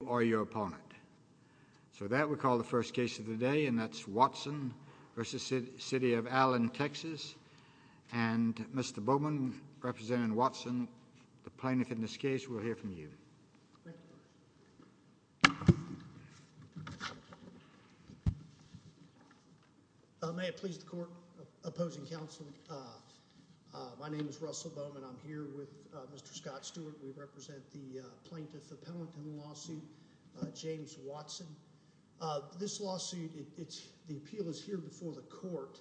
or your opponent. So that we call the first case of the day and that's Watson v. City of Allen, Texas. And Mr. Bowman, representing Watson, the plaintiff in this case, we'll hear from you. May it please the court, opposing counsel, my name is Russell Bowman, I'm here with Mr. James Watson. This lawsuit, the appeal is here before the court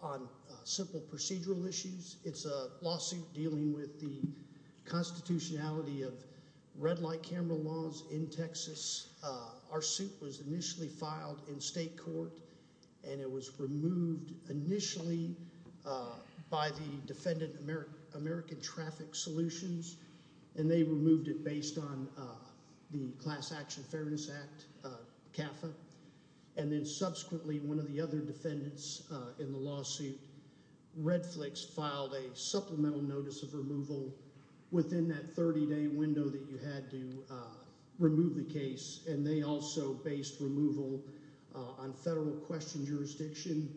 on simple procedural issues. It's a lawsuit dealing with the constitutionality of red light camera laws in Texas. Our suit was initially filed in state court and it was removed initially by the defendant, American Traffic Solutions, and they removed it based on the Class Action Fairness Act, CAFA, and then subsequently one of the other defendants in the lawsuit, Red Flicks, filed a supplemental notice of removal within that 30 day window that you had to remove the case and they also based removal on federal question jurisdiction.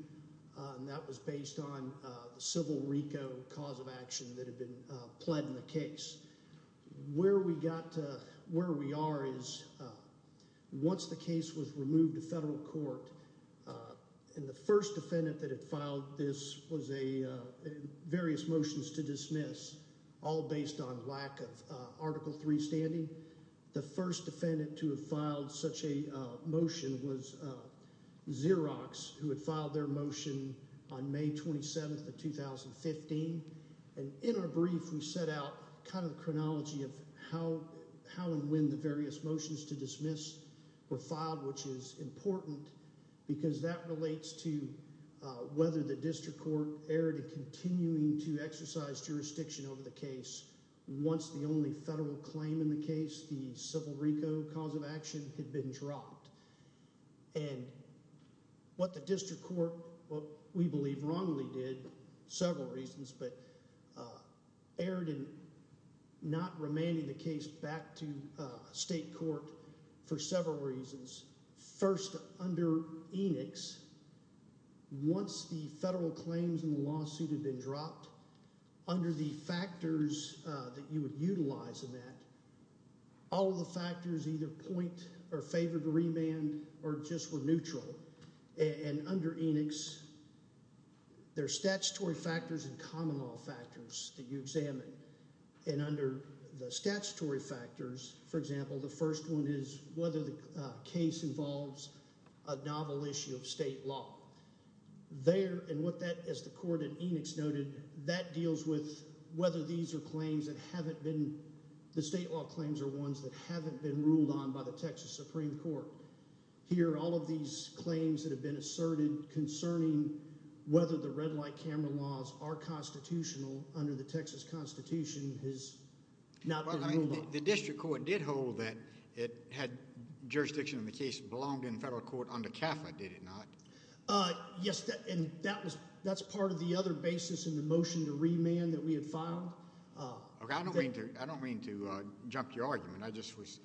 That was based on the civil RICO cause of the case. Where we are is once the case was removed to federal court and the first defendant that had filed this was various motions to dismiss, all based on lack of Article 3 standing, the first defendant to have filed such a motion was Xerox, who had filed their motion on May 27th of 2015, and in our brief we set out kind of the chronology of how and when the various motions to dismiss were filed, which is important because that relates to whether the district court erred in continuing to exercise jurisdiction over the case once the only federal claim in the case, the civil RICO cause of action, had been dropped. And what the district court, what we believe wrongly did, several reasons, but erred in not remanding the case back to state court for several reasons. First, under Enix, once the federal claims in the lawsuit had been dropped, under the factors that you would utilize in that, all the factors either point or favored a remand or just were neutral. And under Enix, there are statutory factors and common law factors that you examine. And under the statutory factors, for example, the first one is whether the case involves a novel issue of state law. There, and what that, as the court at Enix noted, that deals with whether these are claims that haven't been, the state law claims are ones that haven't been ruled on by the Texas Supreme Court. Here, all of these claims that have been asserted concerning whether the red light camera laws are constitutional under the Texas Constitution has not been ruled on. The district court did hold that it had jurisdiction in the case belonged in federal court under CAFA, did it not? Yes, and that was, that's part of the other basis in the case. Okay, I don't mean to, I don't mean to jump your argument. I just was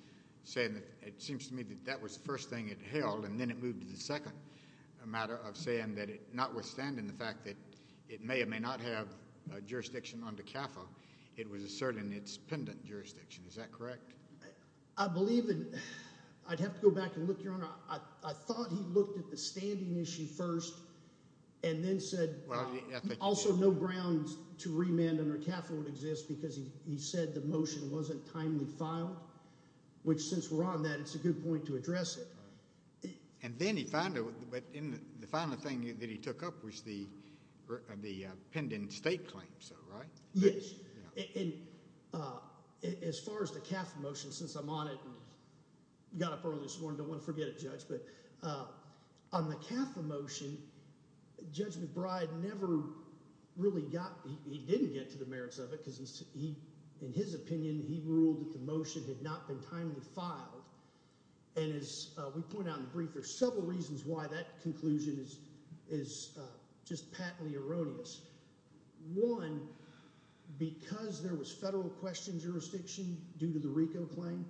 saying that it seems to me that that was the first thing it held, and then it moved to the second matter of saying that it, notwithstanding the fact that it may or may not have a jurisdiction under CAFA, it was asserting its pendant jurisdiction. Is that correct? I believe in, I'd have to go back and look, Your Honor. I thought he looked at the standing issue first and then he said, also no grounds to remand under CAFA would exist because he said the motion wasn't timely filed, which since we're on that, it's a good point to address it. And then he found it, but in the final thing that he took up was the, the pendant state claim, so, right? Yes, and as far as the CAFA motion, since I'm on it and got up early this morning, I don't want to forget it, Judge, but on the CAFA motion, Judge McBride never really got, he didn't get to the merits of it because he, in his opinion, he ruled that the motion had not been timely filed. And as we point out in the brief, there's several reasons why that conclusion is, is just patently erroneous. One, because there was federal question jurisdiction due to the RICO claim.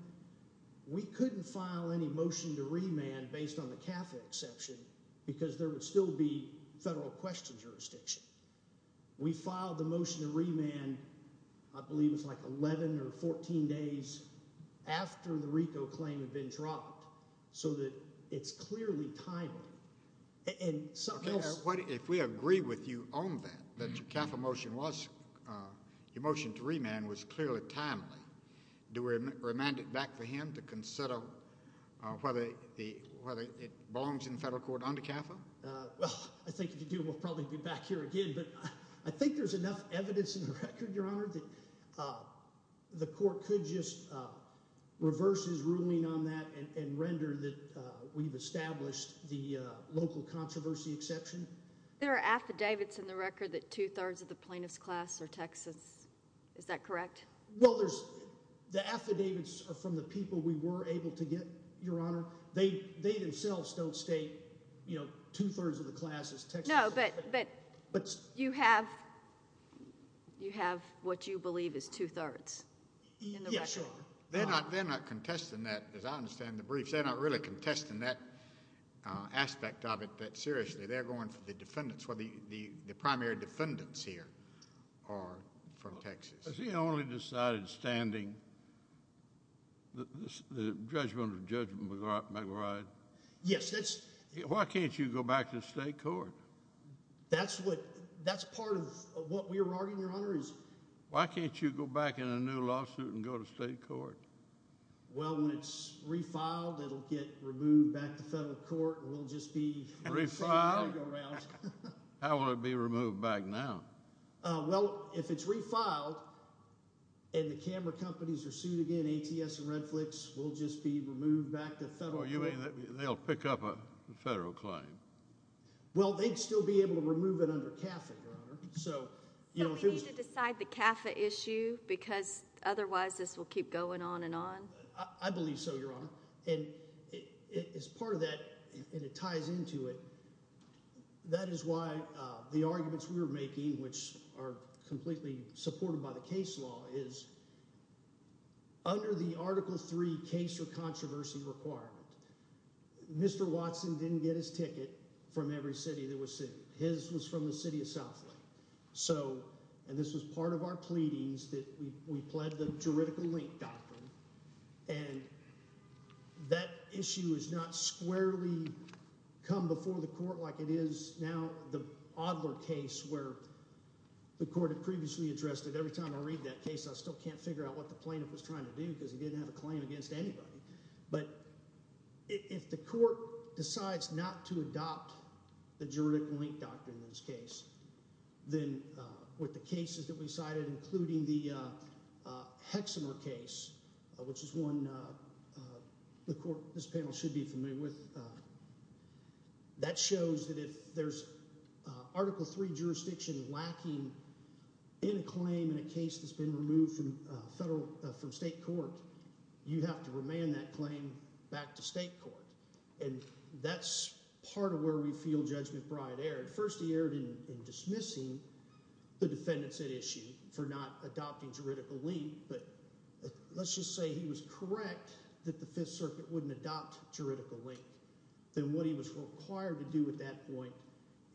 We couldn't file any motion to remand based on the CAFA exception because there would still be federal question jurisdiction. We filed the motion to remand, I believe it's like 11 or 14 days after the RICO claim had been dropped so that it's clearly timely. And something else. If we agree with you on that, that your CAFA motion was, your Do we remand it back to him to consider whether it belongs in the federal court under CAFA? Well, I think if you do, we'll probably be back here again, but I think there's enough evidence in the record, Your Honor, that the court could just reverse his ruling on that and render that we've established the local controversy exception. There are affidavits in the record that two-thirds of the plaintiff's class are Texas. Is that correct? Well, there's the affidavits from the people we were able to get, Your Honor. They themselves don't state, you know, two-thirds of the class is Texas. No, but you have what you believe is two-thirds. Yes, Your Honor. They're not contesting that, as I understand the brief. They're not really primary defendants here are from Texas. Has he only decided standing the judgment of Judge McElroy? Yes. Why can't you go back to the state court? That's part of what we're arguing, Your Honor. Why can't you go back in a new lawsuit and go to state court? Well, when it's refiled, it'll get removed back to federal court and we'll just be around. How will it be removed back now? Well, if it's refiled and the camera companies are sued again, ATS and Redflix will just be removed back to federal court. You mean they'll pick up a federal claim? Well, they'd still be able to remove it under CAFA, Your Honor. So, you know, we need to decide the CAFA issue because otherwise this will keep going on and on. I that is why the arguments we were making, which are completely supported by the case law, is under the Article 3 case or controversy requirement. Mr. Watson didn't get his ticket from every city that was sued. His was from the City of Southlake. And this was part of our pleadings that we pled the juridical link doctrine. And that issue is not squarely come before the court like it is now the Adler case where the court had previously addressed it. Every time I read that case, I still can't figure out what the plaintiff was trying to do because he didn't have a claim against anybody. But if the court decides not to adopt the juridical link doctrine in this case, then with the cases that we cited, including the Hexamer case, which is one the court, this panel should be familiar with, that shows that if there's Article 3 jurisdiction lacking in a claim in a case that's been removed from state court, you have to remand that claim back to state court. And that's part of where we were not adopting juridical link. But let's just say he was correct that the Fifth Circuit wouldn't adopt juridical link, then what he was required to do at that point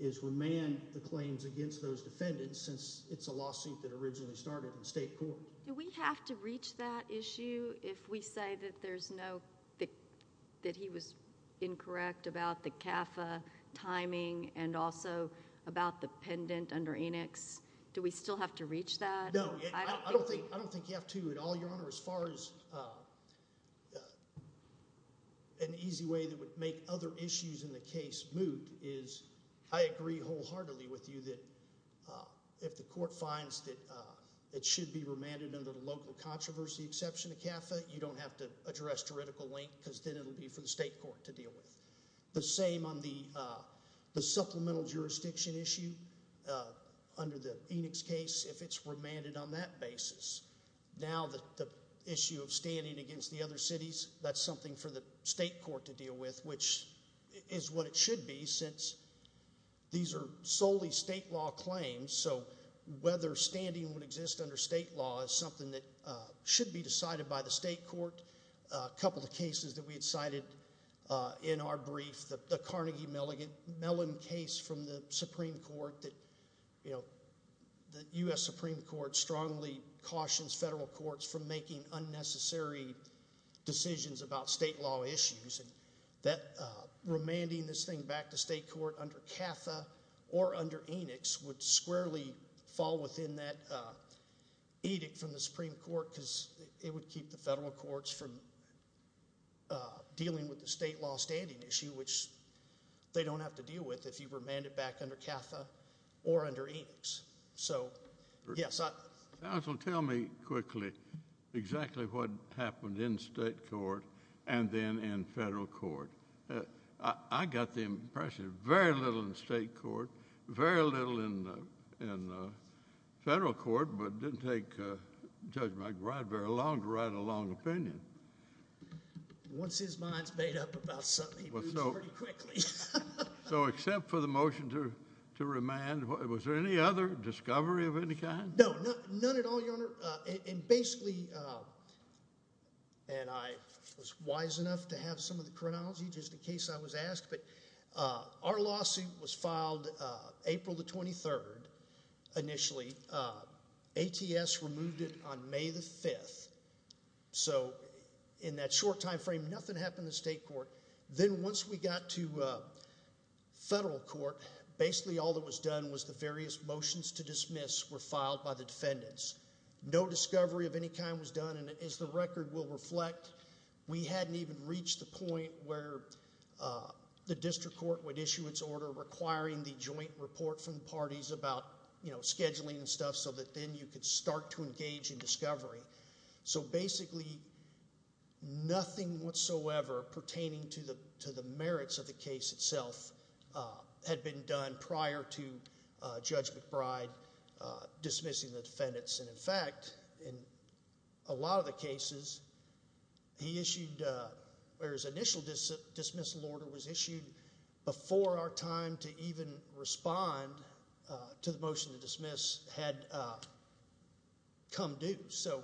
is remand the claims against those defendants since it's a lawsuit that originally started in state court. Do we have to reach that issue if we say that there's no, that he was incorrect about the CAFA timing and also about the pendant under Enix? Do we still have to reach that? No. I don't think you have to at all, Your Honor. As far as an easy way that would make other issues in the case moot is I agree wholeheartedly with you that if the court finds that it should be remanded under the local controversy exception of CAFA, you don't have to address juridical link because then it'll be for the state court to deal with. The same on the supplemental jurisdiction issue under the Enix case, if it's remanded on that basis. Now the issue of standing against the other cities, that's something for the state court to deal with, which is what it should be since these are solely state law claims. So whether standing would exist under state law is something that should be decided by the state court. A couple of cases that we had cited in our brief, the Carnegie Mellon case from the Supreme Court that, you know, the U.S. Supreme Court strongly cautions federal courts from making unnecessary decisions about state law issues and that remanding this thing back to state court under CAFA or under Enix would squarely fall within that edict from the Supreme Court because it would keep the federal courts from dealing with the state law standing issue, which they don't have to deal with if you remand it back under CAFA or under Enix. So, yes. Counsel, tell me quickly exactly what happened in state court and then in federal court. I got the impression very little in state court, very little in federal court, but didn't take Judge McGrath very long to write a long opinion. Once his mind's made up about something, he moves pretty quickly. So except for the motion to remand, was there any other discovery of any kind? No, none at all, Your Honor, and basically, and I was wise enough to have some of the chronology just in case I was asked, but our lawsuit was filed April the 23rd initially. ATS removed it on May the 5th. So in that short time frame, nothing happened in state court. Then once we got to federal court, basically all that was done was the various motions to dismiss were filed by the defendants. No discovery of any kind was done and as the record will reflect, we hadn't even reached the point where the district court would issue its order requiring the joint report from parties about scheduling and stuff so that then you could start to engage in discovery. So basically, nothing whatsoever pertaining to the merits of the case itself had been done prior to Judge McBride dismissing the defendants and in fact, in a lot of the cases, he issued, or his initial dismissal order was issued before our time to even respond to the motion to dismiss had come due. So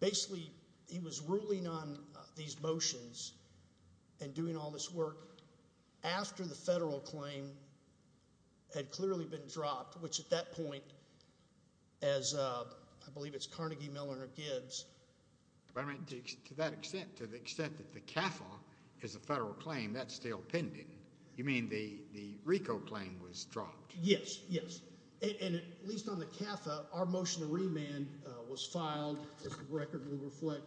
basically, he was ruling on these motions and doing all this work after the federal claim had clearly been dropped, which at that point, as I believe it's Carnegie, Miller, and Gibbs. To that extent, to the extent that the CAFA is a federal claim, that's still pending. You mean the RICO claim was dropped? Yes, yes. And at least on the CAFA, our motion to remand was filed, as the record will reflect,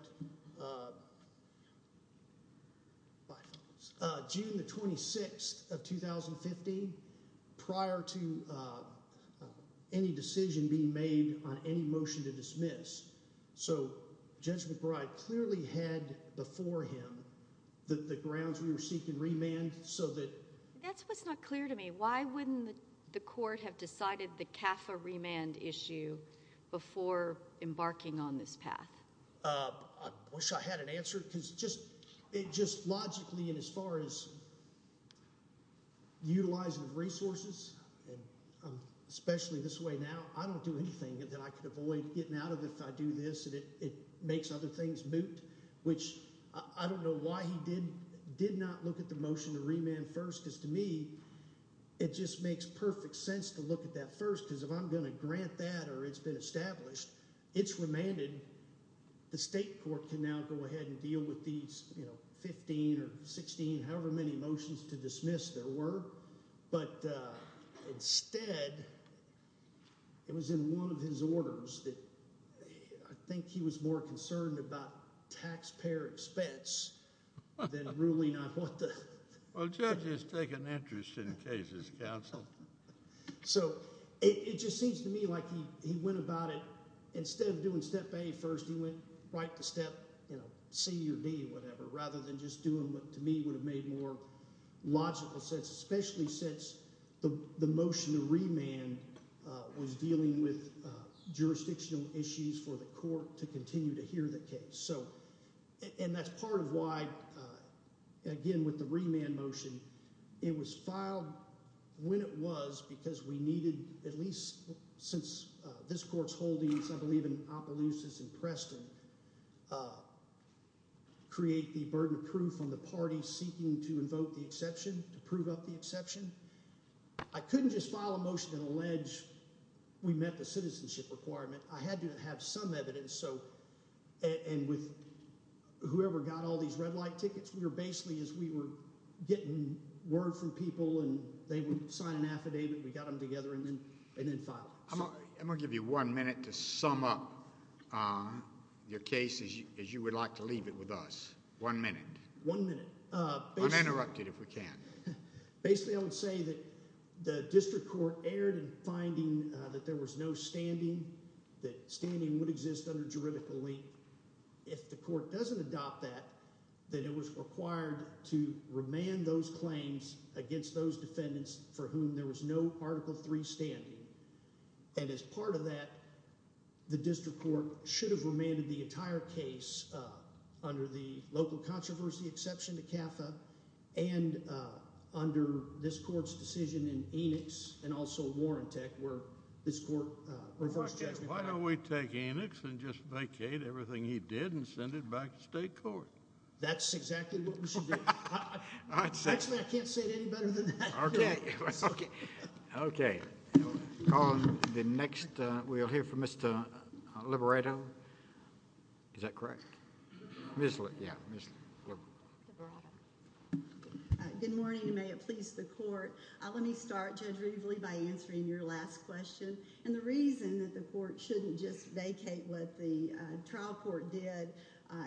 June the 26th of 2015 prior to any decision being made on any motion to dismiss. So Judge McBride clearly had before him the grounds we were seeking remand so that... That's what's not clear to me. Why wouldn't the court have decided the CAFA remand issue before embarking on this path? I wish I had an answer, because just logically and as far as utilizing resources, especially this way now, I don't do anything that I could avoid getting out of if I do this, and it makes other things moot, which I don't know why he did not look at the motion to remand first, because to me, it just makes perfect sense to look at that first, because if I'm going to the state court can now go ahead and deal with these, you know, 15 or 16, however many motions to dismiss there were, but instead it was in one of his orders that I think he was more concerned about taxpayer expense than ruling out what the... Well, judges take an interest in cases, counsel. So it just seems to me like he went about it, instead of doing step A first, he went right to step, you know, C or D, whatever, rather than just doing what to me would have made more logical sense, especially since the motion to remand was dealing with jurisdictional issues for the court to continue to hear the case. So, and that's part of why, again, with the remand motion, it was filed when it was because we needed, at least since this court's holdings, I believe in Opelousas and Preston, create the burden of proof on the party seeking to invoke the exception, to prove up the exception. I couldn't just file a motion and allege we met the citizenship requirement. I had to have some evidence, so, and with whoever got these red light tickets, we were basically, as we were getting word from people and they would sign an affidavit, we got them together and then filed it. I'm going to give you one minute to sum up your case as you would like to leave it with us. One minute. One minute. Uninterrupted if we can. Basically, I would say that the district court erred in finding that there was no standing, that standing would exist under juridical link. If the court doesn't adopt that, then it was required to remand those claims against those defendants for whom there was no Article III standing. And as part of that, the district court should have remanded the entire case under the local controversy exception to CAFA and under this court's decision in Enix and also why don't we take Enix and just vacate everything he did and send it back to state court. That's exactly what we should do. Actually, I can't say it any better than that. Okay. Okay. We'll hear from Mr. Liberato. Is that correct? Good morning and may it please the court. Let me start, Judge Rivoli, by answering your last question. And the reason that the court shouldn't just vacate what the trial court did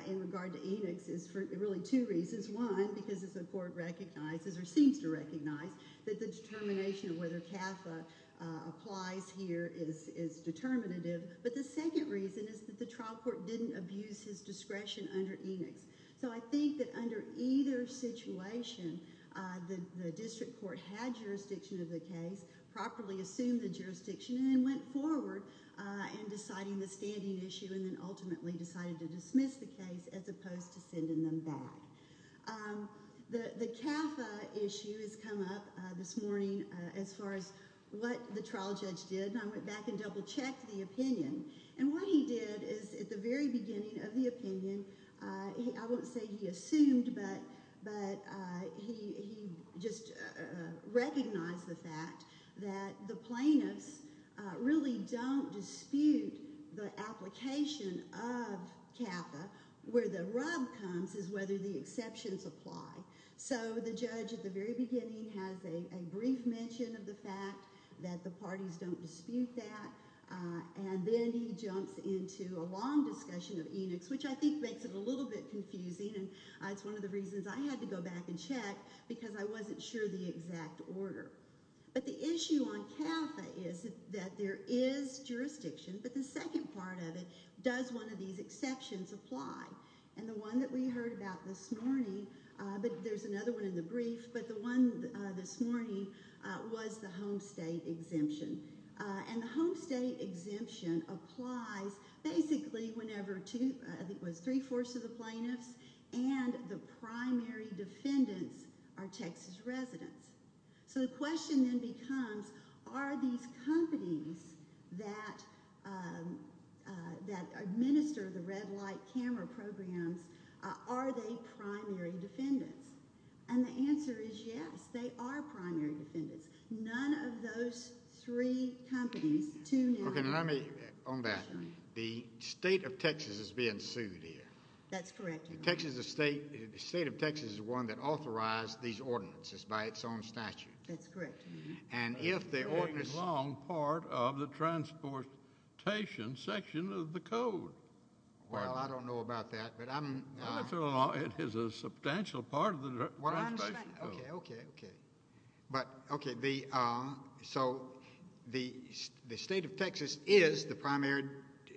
in regard to Enix is for really two reasons. One, because as the court recognizes or seems to recognize that the determination of whether CAFA applies here is determinative. But the second reason is that the trial court didn't abuse his discretion under Enix. So I think that under either situation, the district court had jurisdiction of the case, properly assumed the jurisdiction, and then went forward in deciding the standing issue and then ultimately decided to dismiss the case as opposed to sending them back. The CAFA issue has come up this morning as far as what the trial judge did. And I went back and double-checked the opinion. And what he did is at the very beginning of the he just recognized the fact that the plaintiffs really don't dispute the application of CAFA. Where the rub comes is whether the exceptions apply. So the judge at the very beginning has a brief mention of the fact that the parties don't dispute that. And then he jumps into a long discussion of Enix, which I think makes it a little bit confusing. And it's one of the reasons I had to go back and check because I wasn't sure the exact order. But the issue on CAFA is that there is jurisdiction, but the second part of it, does one of these exceptions apply? And the one that we heard about this morning, but there's another one in the brief, but the one this morning was the home state exemption. And the home state exemption applies basically whenever two, I think it was three-fourths of the plaintiffs and the primary defendants are Texas residents. So the question then becomes, are these companies that administer the red light camera programs, are they primary defendants? And the answer is yes, they are primary defendants. None of those three companies. Okay, let me, on that, the state of Texas is being sued here. That's correct. The state of Texas is the one that authorized these ordinances by its own statute. That's correct. And if the ordinance... It's a long part of the transportation section of the code. Well, I don't know about that, but I'm... It is a substantial part of the transportation section. Okay, okay, okay. But okay, so the state of Texas is the primary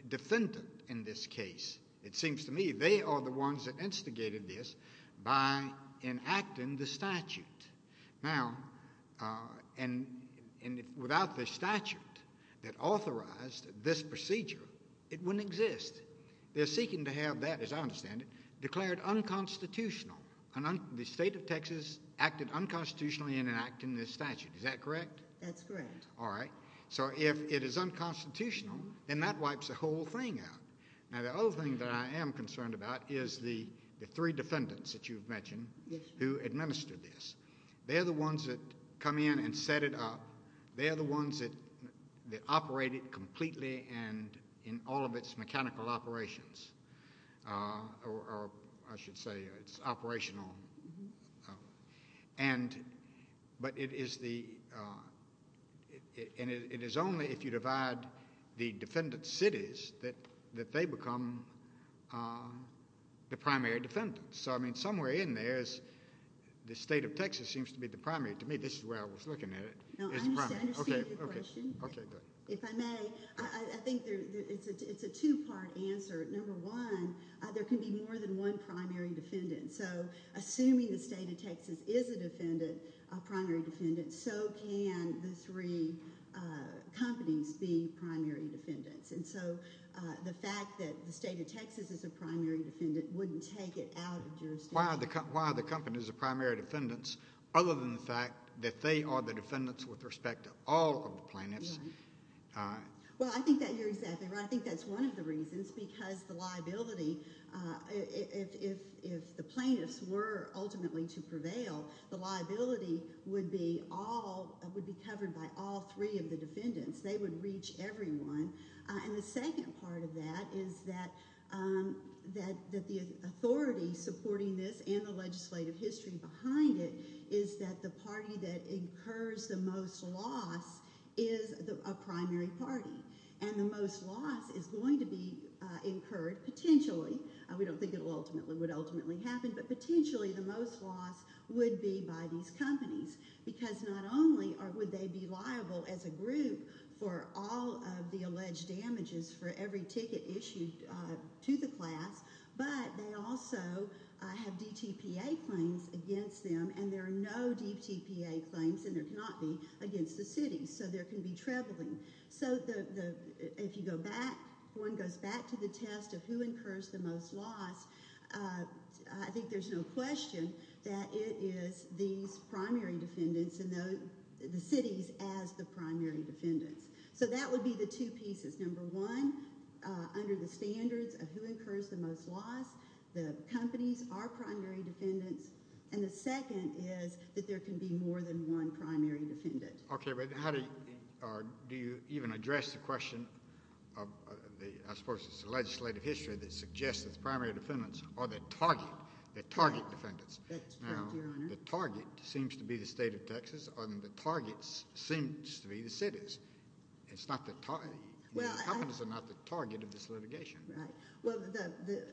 defendant in this case. It seems to me they are the ones that instigated this by enacting the statute. Now, and without the statute that authorized this procedure, it wouldn't exist. They're seeking to have that, as I understand it, declared unconstitutional. The state of Texas acted unconstitutionally in enacting this statute. Is that correct? That's correct. All right, so if it is unconstitutional, then that wipes the whole thing out. Now, the other thing that I am concerned about is the three defendants that you've mentioned who administered this. They're the ones that come in and set it up. They're the ones that operate it completely and in all of its mechanical operations, or I should say it's operational. But it is the... And it is only if you divide the defendant's cities that they become the primary defendants. So, I mean, somewhere in there is the state of Texas seems to be the primary. To me, this is where I was looking at it. No, I understand your question. If I may, I think it's a two-part answer. Number one, there can be more than one primary defendant. So assuming the state of Texas is a defendant, a primary defendant, so can the three companies be primary defendants. And so the fact that the state of Texas is a primary defendant wouldn't take it out of jurisdiction. Why are the companies a primary defendants other than the fact that they are the defendants with respect to all of the plaintiffs? Well, I think that you're exactly right. I think that's one of the reasons, because the liability, if the plaintiffs were ultimately to prevail, the liability would be all, would be covered by all three of the defendants. They would reach everyone. And the second part of that is that that the authority supporting this and the legislative history behind it is that the party that incurs the most loss is a primary party. And the most loss is going to be incurred potentially. We don't think it will ultimately, would ultimately happen, but potentially the most loss would be by these companies. Because not only would they be liable as a group for all of the alleged damages for every ticket issued to the class, but they also have DTPA claims against them. And there are no DTPA claims, and there cannot be, against the city. So there can be traveling. So the, if you go back, one goes back to the test of who incurs the most loss, I think there's no question that it is these primary defendants and the cities as the primary defendants. So that would be the two pieces. Number one, under the standards of who incurs the most loss, the companies are primary defendants. And the second is that there can be more than one primary defendant. Okay, but how do, do you even address the question of the, I suppose it's the legislative history that suggests that the primary defendants are the target, the target defendants. The target seems to be the state of Texas, and the targets seems to be the cities. It's not the target, the companies are not the target of this litigation. Right, well the,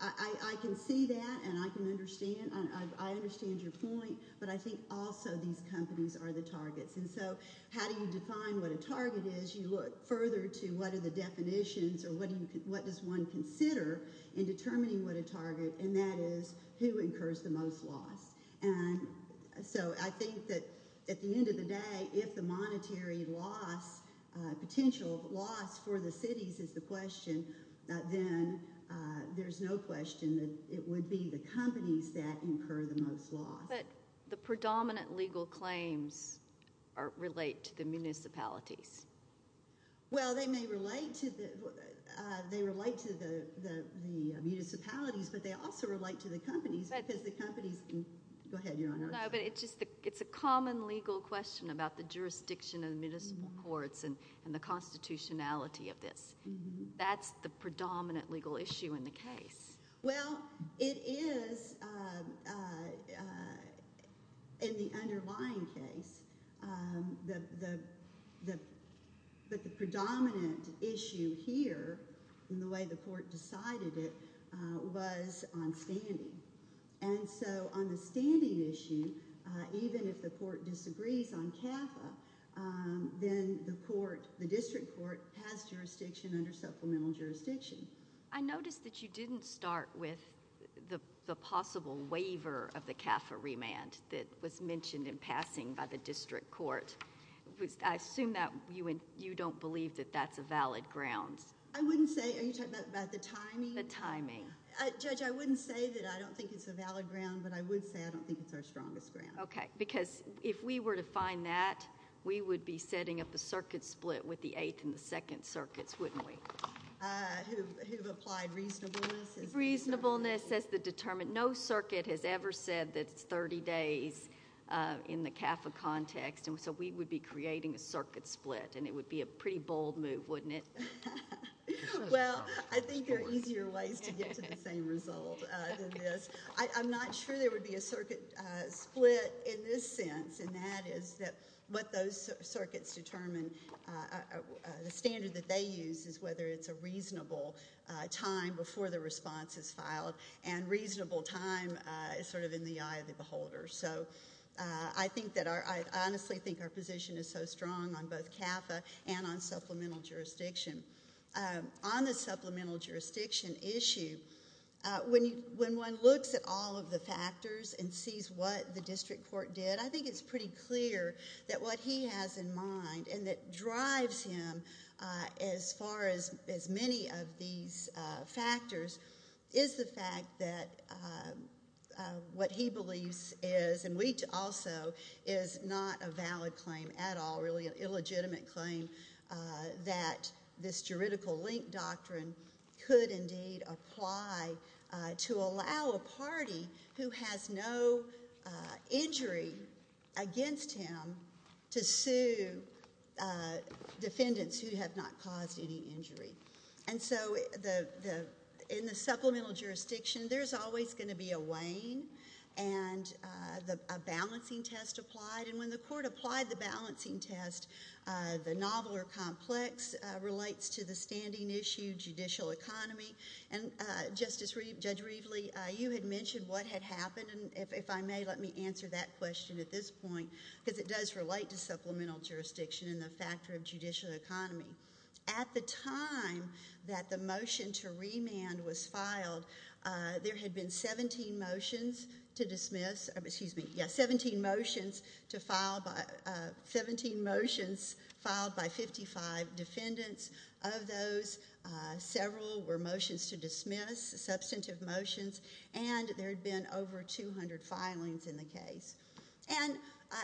I can see that, and I can understand, I understand your point, but I think also these companies are the targets. And so how do you define what a target is? You look further to what are the definitions, or what do you, consider in determining what a target, and that is who incurs the most loss. And so I think that at the end of the day, if the monetary loss, potential loss for the cities is the question, then there's no question that it would be the companies that incur the most loss. But the predominant legal claims are, relate to the municipalities. Well, they may relate to the, they relate to the municipalities, but they also relate to the companies, because the companies, go ahead your honor. No, but it's just the, it's a common legal question about the jurisdiction of the municipal courts, and the constitutionality of this. That's the predominant legal issue in the way the court decided it, was on standing. And so on the standing issue, even if the court disagrees on CAFA, then the court, the district court, has jurisdiction under supplemental jurisdiction. I noticed that you didn't start with the possible waiver of the CAFA remand, that was mentioned in passing by the district court. I assume that you don't believe that that's a valid grounds. I wouldn't say, are you talking about the timing? The timing. Judge, I wouldn't say that I don't think it's a valid ground, but I would say I don't think it's our strongest ground. Okay, because if we were to find that, we would be setting up a circuit split with the 8th and the 2nd circuits, wouldn't we? Who've applied reasonableness? Reasonableness as the determined, no circuit has ever said that it's 30 days in the CAFA context, so we would be creating a circuit split, and it would be a pretty bold move, wouldn't it? Well, I think there are easier ways to get to the same result than this. I'm not sure there would be a circuit split in this sense, and that is that what those circuits determine, the standard that they use is whether it's a reasonable time before the response is filed, and reasonable time is sort of in the eye of the beholder. So I honestly think our position is so strong on both CAFA and on supplemental jurisdiction. On the supplemental jurisdiction issue, when one looks at all of the factors and sees what the district court did, I think it's pretty clear that what he has in mind and that drives him as far as many of these factors is the fact that what he believes is, and we also, is not a valid claim at all, really an illegitimate claim that this juridical link doctrine could indeed apply to allow a party who has no injury against him to sue defendants who have not caused any injury. And so in the supplemental jurisdiction, there's always going to be a weighing and a balancing test applied, and when the court applied the balancing test, the novel or complex relates to the standing issue, judicial economy, and Judge Reveley, you had mentioned what had happened, and if I may, let me answer that question at this point, because it does relate to supplemental jurisdiction and the factor of judicial economy. At the time that the motion to remand was filed, there had been 17 motions to dismiss, excuse me, yeah, 17 motions to file, 17 motions filed by 55 defendants. Of those, several were motions to dismiss, substantive motions, and there had been over 200 filings in the case. And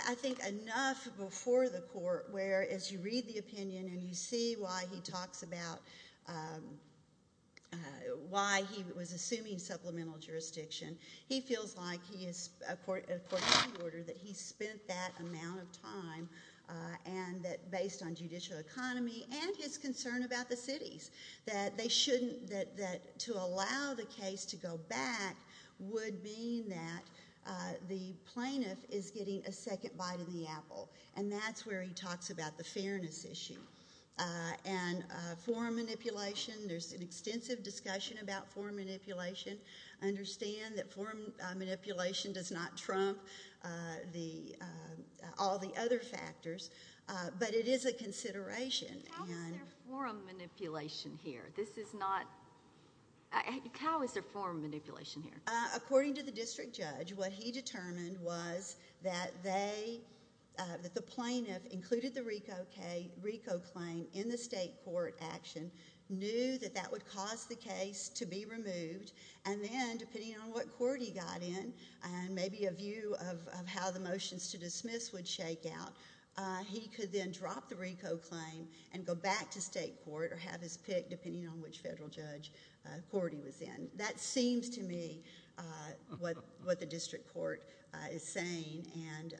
I think enough before the court where, as you read the opinion and you see why he talks about why he was assuming supplemental jurisdiction, he feels like he is, according to the order, that he spent that amount of time, and that based on judicial economy and his concern about the cities, that they shouldn't, that to allow the case to go back would mean that the plaintiff is getting a second bite in the apple, and that's where he talks about the fairness issue. And forum manipulation, there's an extensive discussion about forum manipulation. Understand that forum manipulation does not trump all the other factors, but it is a consideration. How is there forum manipulation here? This is not, how is there forum manipulation here? According to the district judge, what he determined was that they, that the plaintiff, included the RICO claim in the state court action, knew that that would cause the case to be removed, and then, depending on what court he got in, and maybe a view of how the motions to dismiss would shake out, he could then drop the RICO claim and go back to state court or have his pick, depending on which federal judge court he was in. That seems to me what the district court is saying, and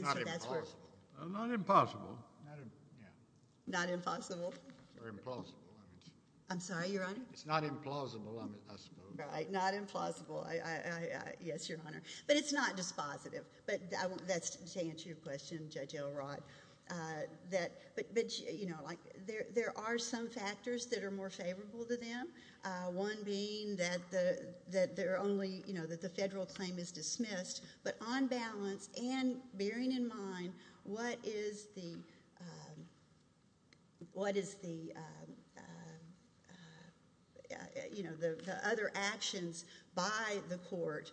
so that's where— It's not implausible. Well, not impossible. Yeah. Not impossible? Or implausible, I mean. I'm sorry, Your Honor? It's not implausible, I mean, I suppose. Right, not implausible. Yes, Your Honor. But it's not dispositive, but that's to answer your question, Judge Elrod. But, you know, like, there are some factors that are more favorable to them, one being that they're only, you know, that the federal claim is dismissed, but on balance and bearing in mind what is the, what is the, you know, the other actions by the court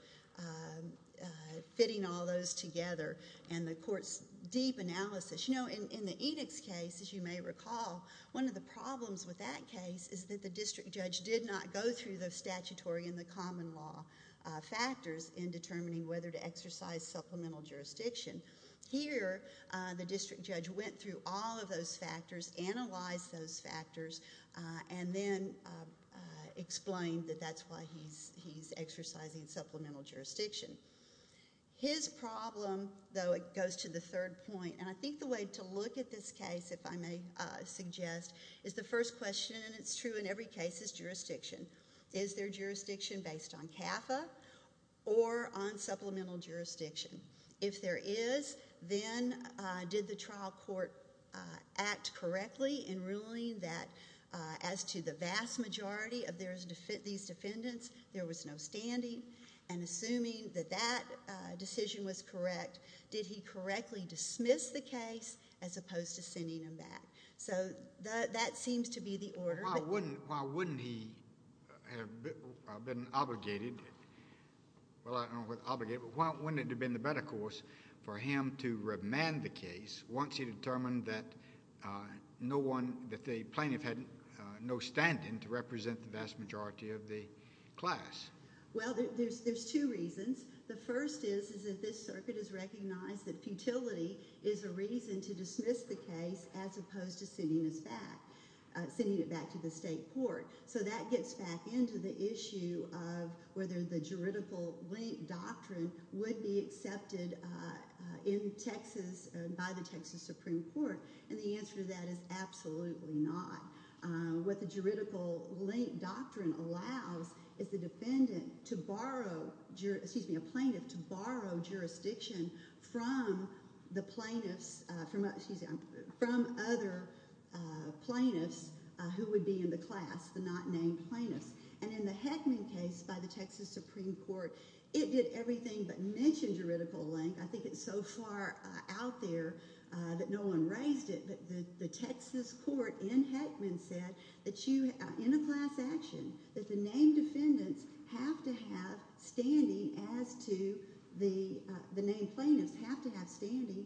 fitting all those together and the court's deep analysis. You know, in the edicts case, as you may recall, one of the problems with that case is that the district judge did not go through the statutory and the common law factors in determining whether to exercise supplemental jurisdiction. Here, the district judge went through all of those factors, analyzed those factors, and then explained that that's why he's exercising supplemental jurisdiction. His problem, though, it goes to the third point, and I think the way to look at this case, if I may suggest, is the first question, and it's true in every case, is jurisdiction. Is there jurisdiction based on CAFA or on supplemental jurisdiction? If there is, then did the trial court act correctly in ruling that as to the vast majority of these defendants, there was no standing? And assuming that that decision was correct, did he correctly dismiss the case as opposed to sending them back? So that seems to be the order. Why wouldn't, why wouldn't he have been obligated, well, I don't know what obligated, but why wouldn't it have been the better course for him to remand the case once he determined that no one, that the plaintiff had no standing to represent the vast majority of the class? Well, there's two reasons. The first is that this circuit has recognized that futility is a reason to dismiss the case as opposed to sending it back to the state court. So that gets back into the issue of whether the juridical link doctrine would be accepted in Texas by the Texas Supreme Court, and the answer to that is absolutely not. What the juridical link doctrine allows is the defendant to borrow, excuse me, a plaintiff to borrow jurisdiction from the plaintiffs, excuse me, from other plaintiffs who would be in the class, the not named plaintiffs. And in the Heckman case by the Texas Supreme Court, it did everything but mention juridical link. I think it's so far out there that no one raised it, but the Texas court in Heckman said that you, in a class action, that the named defendants have to have standing as to the, the named plaintiffs have to have standing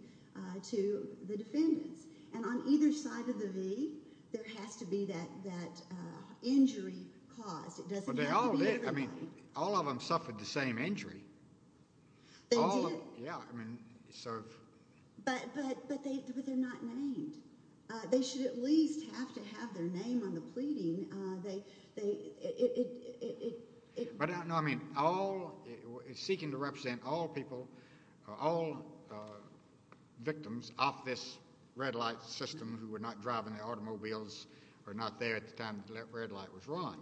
to the defendants. And on either side of the V, there has to be that, that injury caused. It doesn't have to be everybody. But they all did. I mean, all of them suffered the same injury. They did. Yeah, I mean, so. But, but, but they, but they're not named. They should at least have to have their name on the pleading. They, they, it, it, it, it. But, no, I mean, all, seeking to represent all people, all victims off this red light system who were not driving their automobiles or not there at the time the red light was run.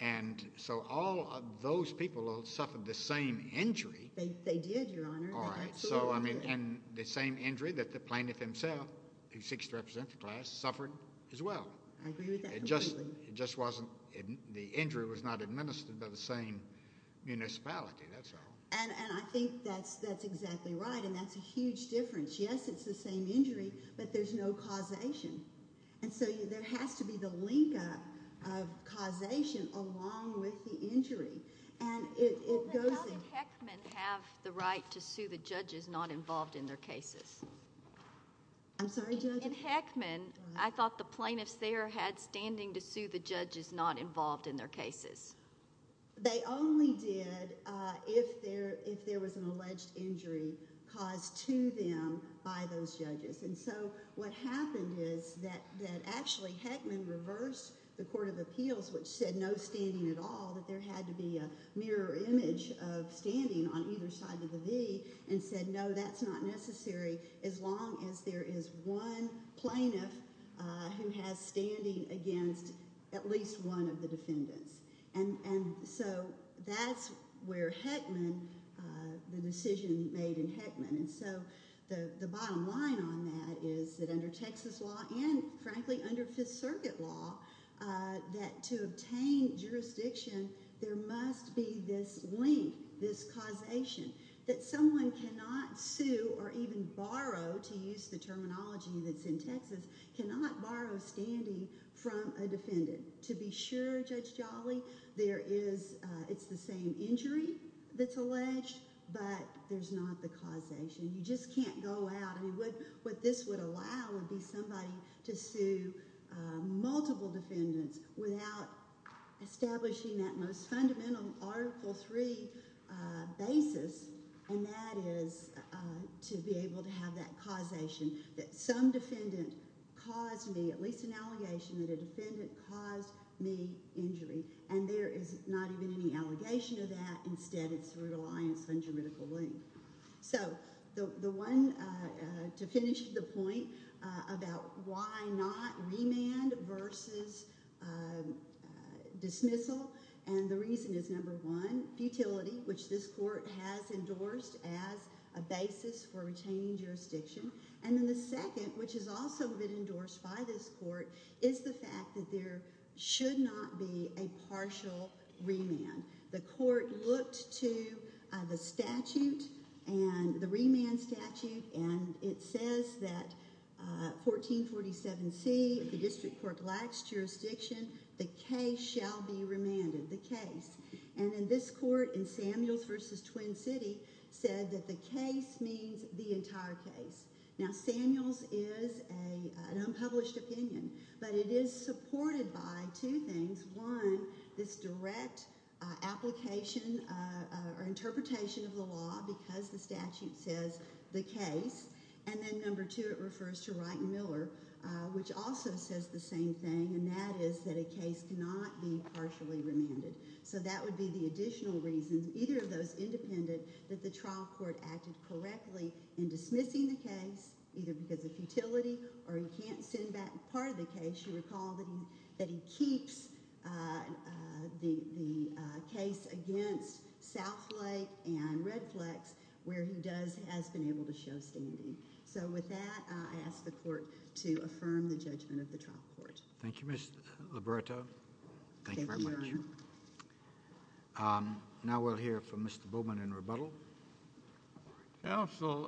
And so all of those people all suffered the same injury. They, they did, Your Honor. All right. So, I mean, and the same injury that the plaintiff himself, who seeks to represent the class, suffered as well. I agree with that. It just, it just wasn't, the injury was not administered by the same municipality. That's all. And, and I think that's, that's exactly right. And that's a huge difference. Yes, it's the same injury, but there's no causation. And so there has to be the link up of causation along with the injury. And it, it goes in. Well, then how did Heckman have the right to sue the judges not involved in their cases? I'm sorry, Judge? In Heckman, I thought the plaintiffs there had standing to sue the judges not involved in their cases. They only did if there, if there was an alleged injury caused to them by those judges. And so what happened is that, that actually Heckman reversed the Court of Appeals, which said no standing at all, that there had to be a mirror image of as long as there is one plaintiff who has standing against at least one of the defendants. And, and so that's where Heckman, the decision made in Heckman. And so the bottom line on that is that under Texas law, and frankly, under Fifth Circuit law, that to obtain jurisdiction, there must be this link, this causation that someone cannot sue or even borrow, to use the terminology that's in Texas, cannot borrow standing from a defendant. To be sure, Judge Jolly, there is, it's the same injury that's alleged, but there's not the causation. You just can't go out. I mean, what, what this would allow would be somebody to sue multiple defendants without establishing that most fundamental Article III basis, and that is to be able to have that causation that some defendant caused me, at least an allegation that a defendant caused me injury. And there is not even any allegation of that. Instead, it's through reliance on juridical link. So the, the one, to finish the point about why not remand versus dismissal, and the reason is number one, futility, which this court has endorsed as a basis for retaining jurisdiction. And then the second, which has also been endorsed by this court, is the fact that there should not be a partial remand. The court looked to the statute and the remand statute, and it says that 1447C, the district court lacks jurisdiction, the case shall be remanded, the case. And in this court, in Samuels versus Twin City, said that the case means the entire case. Now, Samuels is a, an unpublished opinion, but it is supported by two things. One, this direct application or interpretation of the law, because the statute says the case, and then number two, it refers to Wright and Miller, which also says the same thing, and that is that a case cannot be partially remanded. So that would be the additional reason, either of those independent, that the trial court acted correctly in dismissing the case, either because of futility, or he can't send back part of the case. You recall that he, that he keeps the, the case against Southlake and Redflex, where he does, has been able to show standing. So with that, I ask the court to affirm the judgment of the trial court. Thank you, Ms. Liberto. Thank you very much. Now we'll hear from Mr. Bowman in rebuttal. Counsel,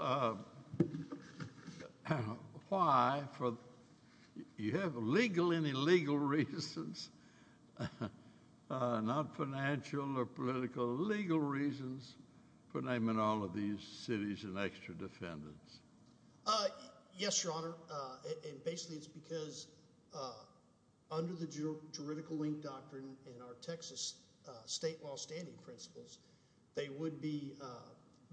why, for, you have legal and illegal reasons, not financial or political, legal reasons, for naming all of these cities an extra defendant? Yes, Your Honor, and basically it's because under the juridical link doctrine in our Texas state law standing principles, they would be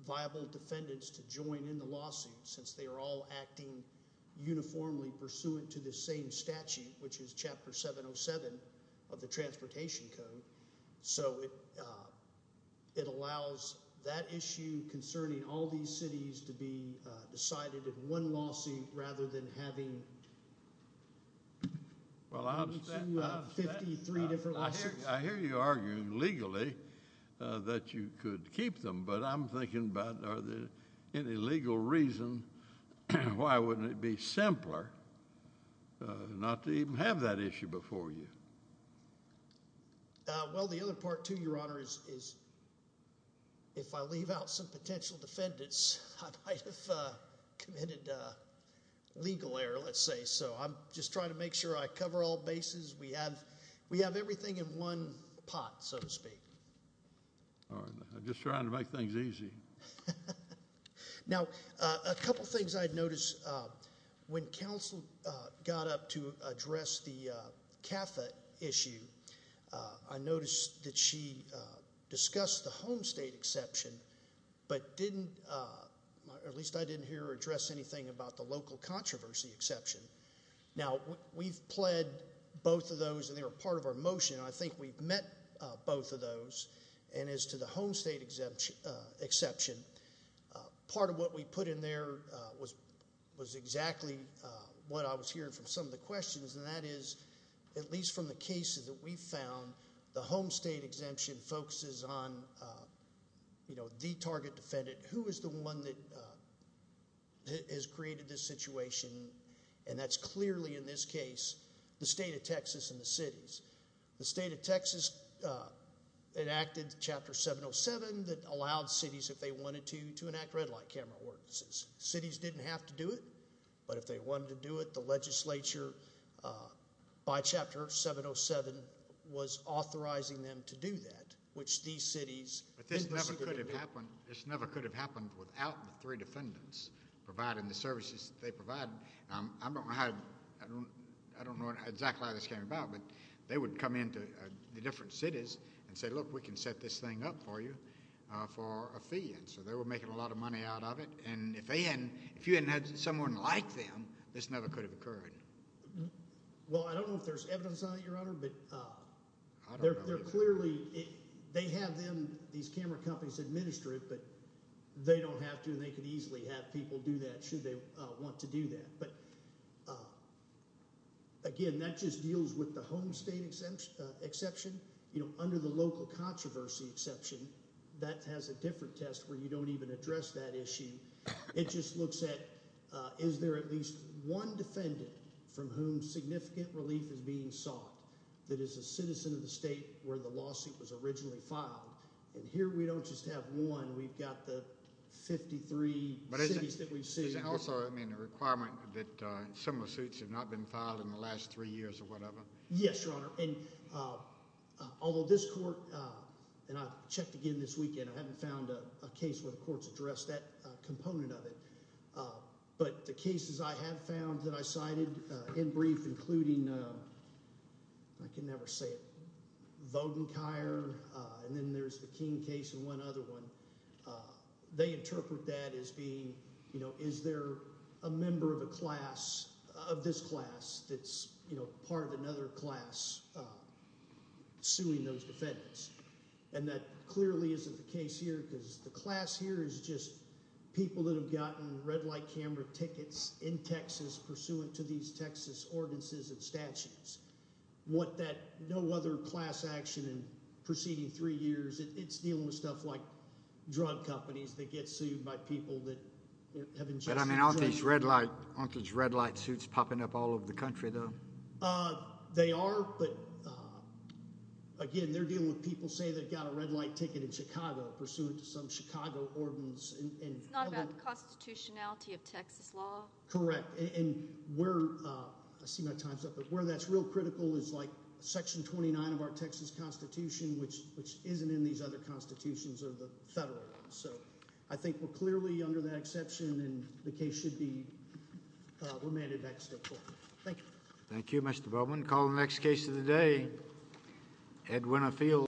viable defendants to join in the lawsuit, since they are all acting uniformly pursuant to the same statute, which is Chapter 707 of the Transportation Code. So it, it allows that issue concerning all these cities to be legally, that you could keep them, but I'm thinking about are there any legal reason, why wouldn't it be simpler not to even have that issue before you? Well, the other part, too, Your Honor, is, is if I leave out some potential defendants, I might have committed a legal error, let's say, so I'm just trying to make sure I cover all bases. We have, we have everything in one pot, so to speak. All right, I'm just trying to make things easy. Now a couple things I'd notice, when counsel got up to address the CAFA issue, I noticed that she discussed the home state exception, but didn't, at least I didn't hear her about the local controversy exception. Now, we've pled both of those, and they were part of our motion, and I think we've met both of those, and as to the home state exemption, exception, part of what we put in there was, was exactly what I was hearing from some of the questions, and that is, at least from the cases that we found, the home state exemption focuses on, you know, the target defendant, who is the one that has created this situation, and that's clearly, in this case, the state of Texas and the cities. The state of Texas enacted Chapter 707 that allowed cities, if they wanted to, to enact red light camera ordinances. Cities didn't have to do it, but if they wanted to do it, the legislature, uh, by Chapter 707, was authorizing them to do that, which these cities. But this never could have happened. This never could have happened without the three defendants providing the services that they provided. I don't know how, I don't, I don't know exactly how this came about, but they would come into the different cities and say, look, we can set this thing up for you for a fee, and so they were making a lot of money out of it, and if they hadn't, if you hadn't had someone like them, this never could have occurred. Well, I don't know if there's evidence on it, your honor, but, uh, they're, they're clearly, they have them, these camera companies administer it, but they don't have to, and they could easily have people do that should they want to do that. But, again, that just deals with the home state exemption, uh, exception, you know, under the local controversy exception, that has a different test where you don't even address that issue. It just looks at, uh, is there at least one defendant from whom significant relief is being sought that is a citizen of the state where the lawsuit was originally filed, and here we don't just have one, we've got the 53 cities that we've seen. Is it also, I mean, a requirement that, uh, similar suits have not been filed in the last three years or whatever? Yes, your honor, and, uh, although this court, uh, and I've checked again this weekend, I haven't found a case where courts address that, uh, component of it, uh, but the cases I have found that I cited, uh, in brief, including, uh, I can never say it, Vodenkire, uh, and then there's the King case and one other one, uh, they interpret that as being, you know, is there a member of a class of this class that's, you know, part of another class, uh, suing those defendants? And that is just people that have gotten red light camera tickets in Texas pursuant to these Texas ordinances and statutes. What that, no other class action in preceding three years, it's dealing with stuff like drug companies that get sued by people that have ingested drugs. But, I mean, aren't these red light, aren't these red light suits popping up all over the country though? Uh, they are, but, uh, again, they're dealing with people say they've got a red light ticket in Chicago pursuant to some Chicago ordinance. It's not about the constitutionality of Texas law. Correct. And we're, uh, I see my time's up, but where that's real critical is like section 29 of our Texas constitution, which, which isn't in these other constitutions or the federal ones. So I think we're clearly under that exception and the case should be, uh, remanded back to state court. Thank you. Thank you, Mr. Bowman. Call the next case of the day. Ed Winifield.